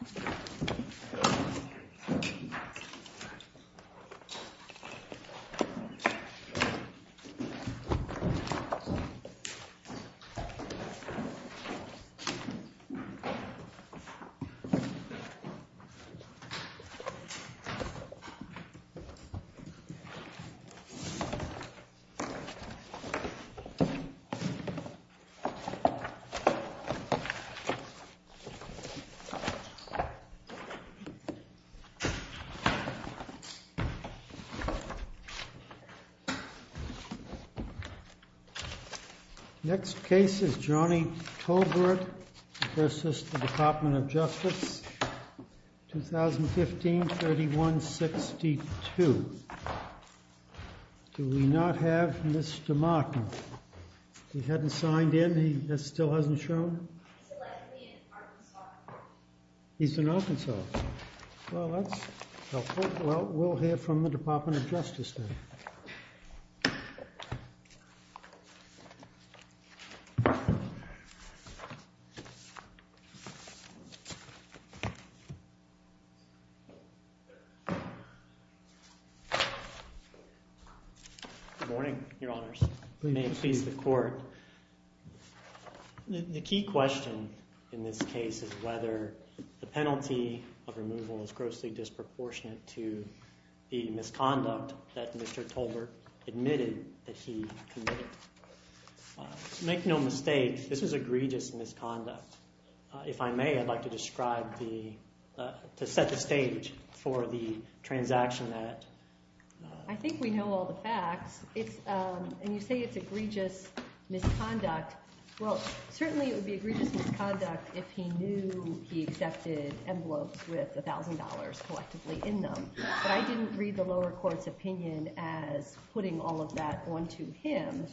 Dojo is a small town in the province of Dojo-dong, South Korea. Next case is Johnny Tolbert v. DOJ, 2015, 3162. Next case is Johnnie Tolbert v. DOJ, 2015, 3162. Good morning, your honors. May it please the court. The key question in this case is whether the penalty of removal is grossly disproportionate to the misconduct that Mr. Tolbert admitted that he committed. Make no mistake, this is egregious misconduct. If I may, I'd like to describe the—to set the stage for the transaction that— I think we know all the facts. It's—and you say it's egregious misconduct. Well, certainly it would be egregious misconduct if he knew he accepted envelopes with $1,000 collectively in them. But I didn't read the lower court's opinion as putting all of that onto him,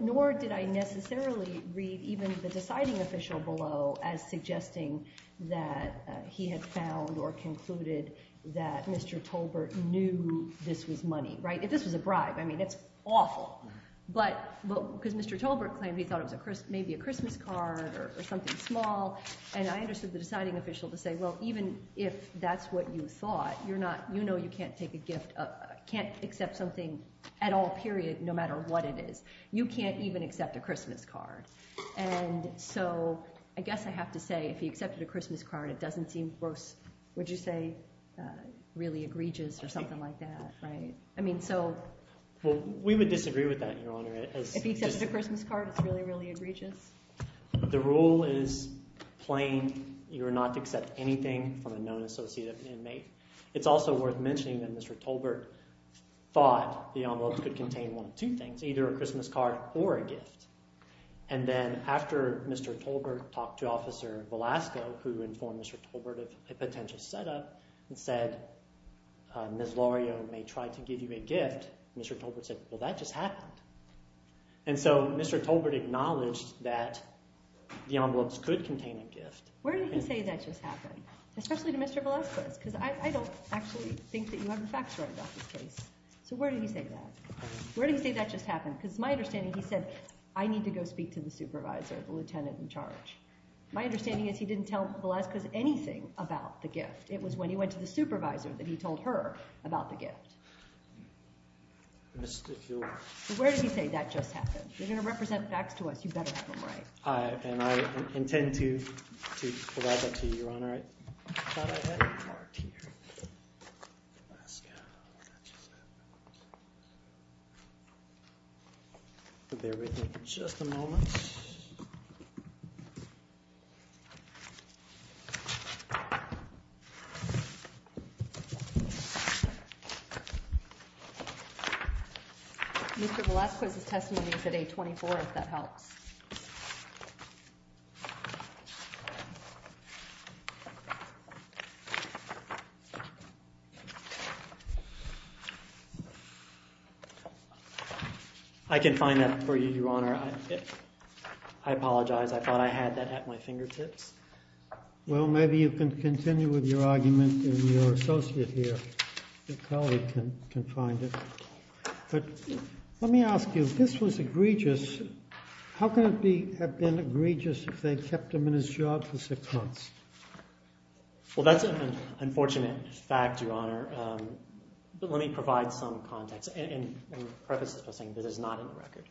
nor did I necessarily read even the deciding official below as suggesting that he had found or concluded that Mr. Tolbert knew this was money. Right? This was a bribe. I mean, it's awful. But—because Mr. Tolbert claimed he thought it was maybe a Christmas card or something small, and I understood the deciding official to say, well, even if that's what you thought, you're not—you know you can't take a gift—can't accept something at all, period, no matter what it is. You can't even accept a Christmas card. And so I guess I have to say if he accepted a Christmas card, it doesn't seem gross—would you say really egregious or something like that, right? I mean, so— Well, we would disagree with that, Your Honor. If he accepted a Christmas card, it's really, really egregious? The rule is plain. You are not to accept anything from a known associate of an inmate. It's also worth mentioning that Mr. Tolbert thought the envelopes could contain one of two things, either a Christmas card or a gift. And then after Mr. Tolbert talked to Officer Velasco, who informed Mr. Tolbert of a potential setup and said, Ms. Lario may try to give you a gift, Mr. Tolbert said, well, that just happened. And so Mr. Tolbert acknowledged that the envelopes could contain a gift. Where did he say that just happened, especially to Mr. Velasco? Because I don't actually think that you have the facts right about this case. So where did he say that? Where did he say that just happened? Because it's my understanding he said, I need to go speak to the supervisor, the lieutenant in charge. My understanding is he didn't tell Velasco anything about the gift. It was when he went to the supervisor that he told her about the gift. Where did he say that just happened? You're going to represent facts to us. You better have them right. I intend to provide that to you, Your Honor. All right. Just a moment. Mr. Velasco's testimony is at 824, if that helps. I can find that for you, Your Honor. I apologize. I thought I had that at my fingertips. Well, maybe you can continue with your argument and your associate here, your colleague, can find it. But let me ask you, if this was egregious, how could it have been egregious if they kept him in his job for six months? Well, that's an unfortunate fact, Your Honor. But let me provide some context and preface this by saying that it's not in the record.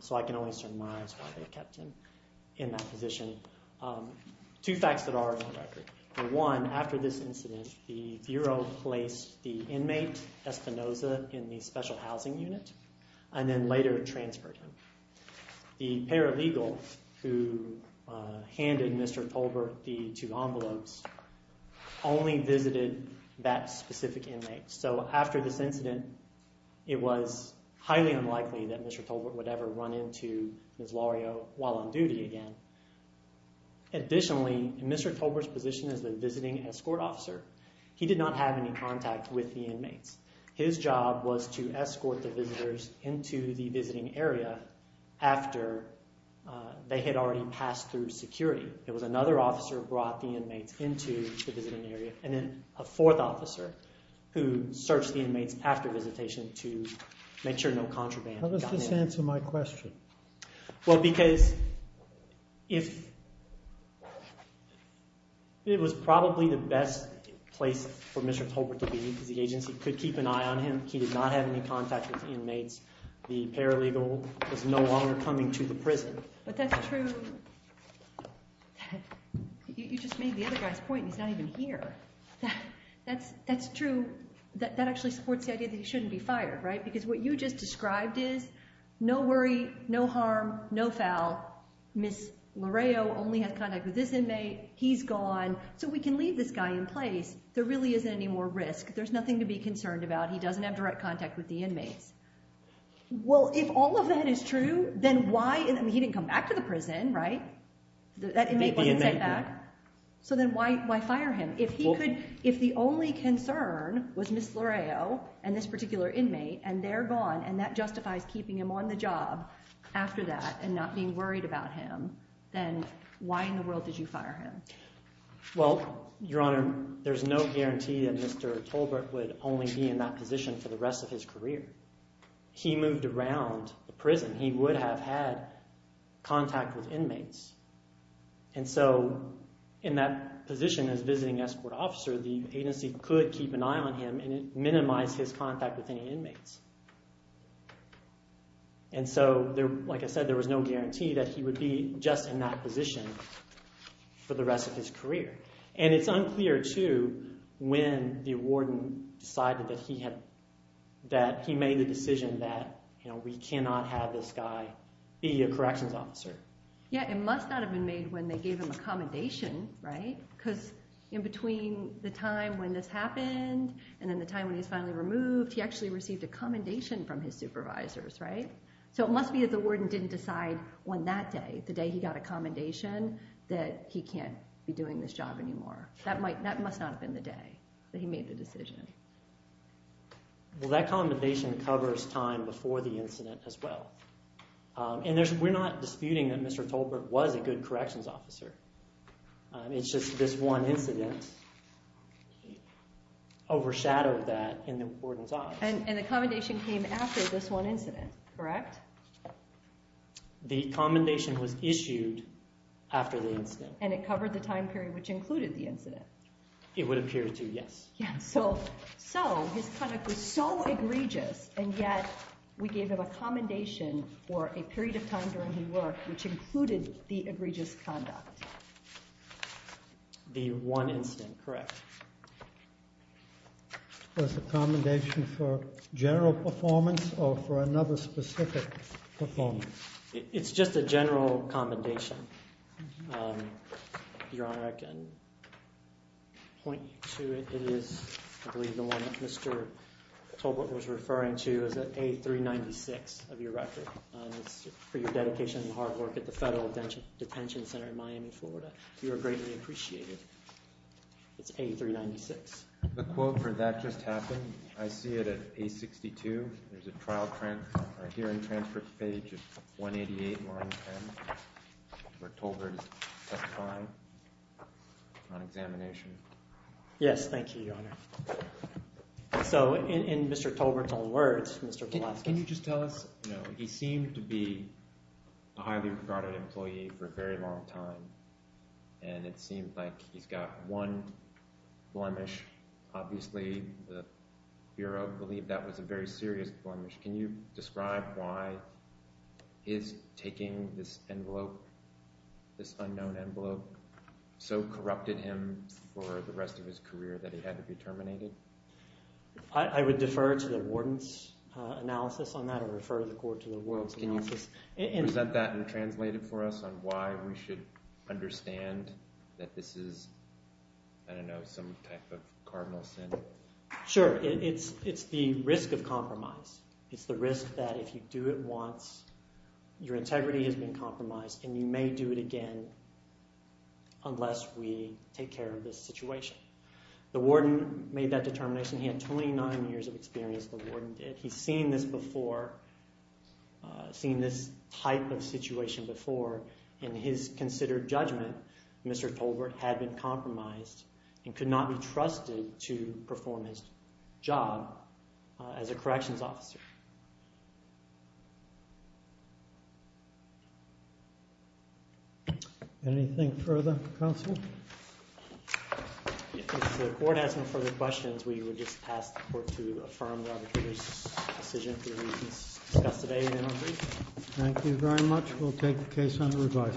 So I can only surmise why they kept him in that position. Two facts that are in the record. For one, after this incident, the bureau placed the inmate, Espinoza, in the special housing unit and then later transferred him. The paralegal who handed Mr. Tolbert the two envelopes only visited that specific inmate. So after this incident, it was highly unlikely that Mr. Tolbert would ever run into Ms. Lario while on duty again. Additionally, in Mr. Tolbert's position as the visiting escort officer, he did not have any contact with the inmates. His job was to escort the visitors into the visiting area after they had already passed through security. It was another officer who brought the inmates into the visiting area and then a fourth officer who searched the inmates after visitation to make sure no contraband got in. How does this answer my question? Well, because it was probably the best place for Mr. Tolbert to be because the agency could keep an eye on him. He did not have any contact with the inmates. The paralegal was no longer coming to the prison. But that's true. You just made the other guy's point and he's not even here. That's true. That actually supports the idea that he shouldn't be fired, right? Because what you just described is no worry, no harm, no foul. Ms. Lario only had contact with this inmate. He's gone. So we can leave this guy in place. There really isn't any more risk. There's nothing to be concerned about. He doesn't have direct contact with the inmates. Well, if all of that is true, then why—he didn't come back to the prison, right? That inmate wasn't sent back. So then why fire him? If he could—if the only concern was Ms. Lario and this particular inmate and they're gone and that justifies keeping him on the job after that and not being worried about him, then why in the world did you fire him? Well, Your Honor, there's no guarantee that Mr. Tolbert would only be in that position for the rest of his career. He moved around the prison. And so in that position as visiting escort officer, the agency could keep an eye on him and minimize his contact with any inmates. And so, like I said, there was no guarantee that he would be just in that position for the rest of his career. And it's unclear too when the warden decided that he had—that he made the decision that we cannot have this guy be a corrections officer. Yeah, it must not have been made when they gave him a commendation, right? Because in between the time when this happened and then the time when he was finally removed, he actually received a commendation from his supervisors, right? So it must be that the warden didn't decide on that day, the day he got a commendation, that he can't be doing this job anymore. That might—that must not have been the day that he made the decision. Well, that commendation covers time before the incident as well. And there's—we're not disputing that Mr. Tolbert was a good corrections officer. It's just this one incident overshadowed that in the warden's eyes. And the commendation came after this one incident, correct? The commendation was issued after the incident. And it covered the time period which included the incident? It would appear to, yes. Yeah, so his conduct was so egregious, and yet we gave him a commendation for a period of time during his work which included the egregious conduct. The one incident, correct. Was the commendation for general performance or for another specific performance? It's just a general commendation, Your Honor. If I can point you to it, it is—I believe the one that Mr. Tolbert was referring to is at A396 of your record. It's for your dedication and hard work at the Federal Detention Center in Miami, Florida. You are greatly appreciated. It's A396. The quote for that just happened. I see it at A62. There's a trial hearing transcript page at 188, line 10, where Tolbert is testifying. On examination. Yes, thank you, Your Honor. So, in Mr. Tolbert's own words, Mr. Velasquez— Can you just tell us—you know, he seemed to be a highly regarded employee for a very long time, and it seems like he's got one blemish. Obviously, the Bureau believed that was a very serious blemish. Can you describe why his taking this envelope, this unknown envelope, so corrupted him for the rest of his career that he had to be terminated? I would defer to the warden's analysis on that or refer the court to the ward's analysis. Can you present that and translate it for us on why we should understand that this is, I don't know, some type of cardinal sin? Sure. It's the risk of compromise. It's the risk that if you do it once, your integrity has been compromised, and you may do it again unless we take care of this situation. The warden made that determination. He had 29 years of experience. The warden did. He's seen this before, seen this type of situation before. In his considered judgment, Mr. Tolbert had been compromised and could not be trusted to perform his job as a corrections officer. Anything further, counsel? If the court has no further questions, we would just ask the court to affirm the arbitrator's decision for the reasons discussed today. Thank you very much. We'll take the case under review. Thank you.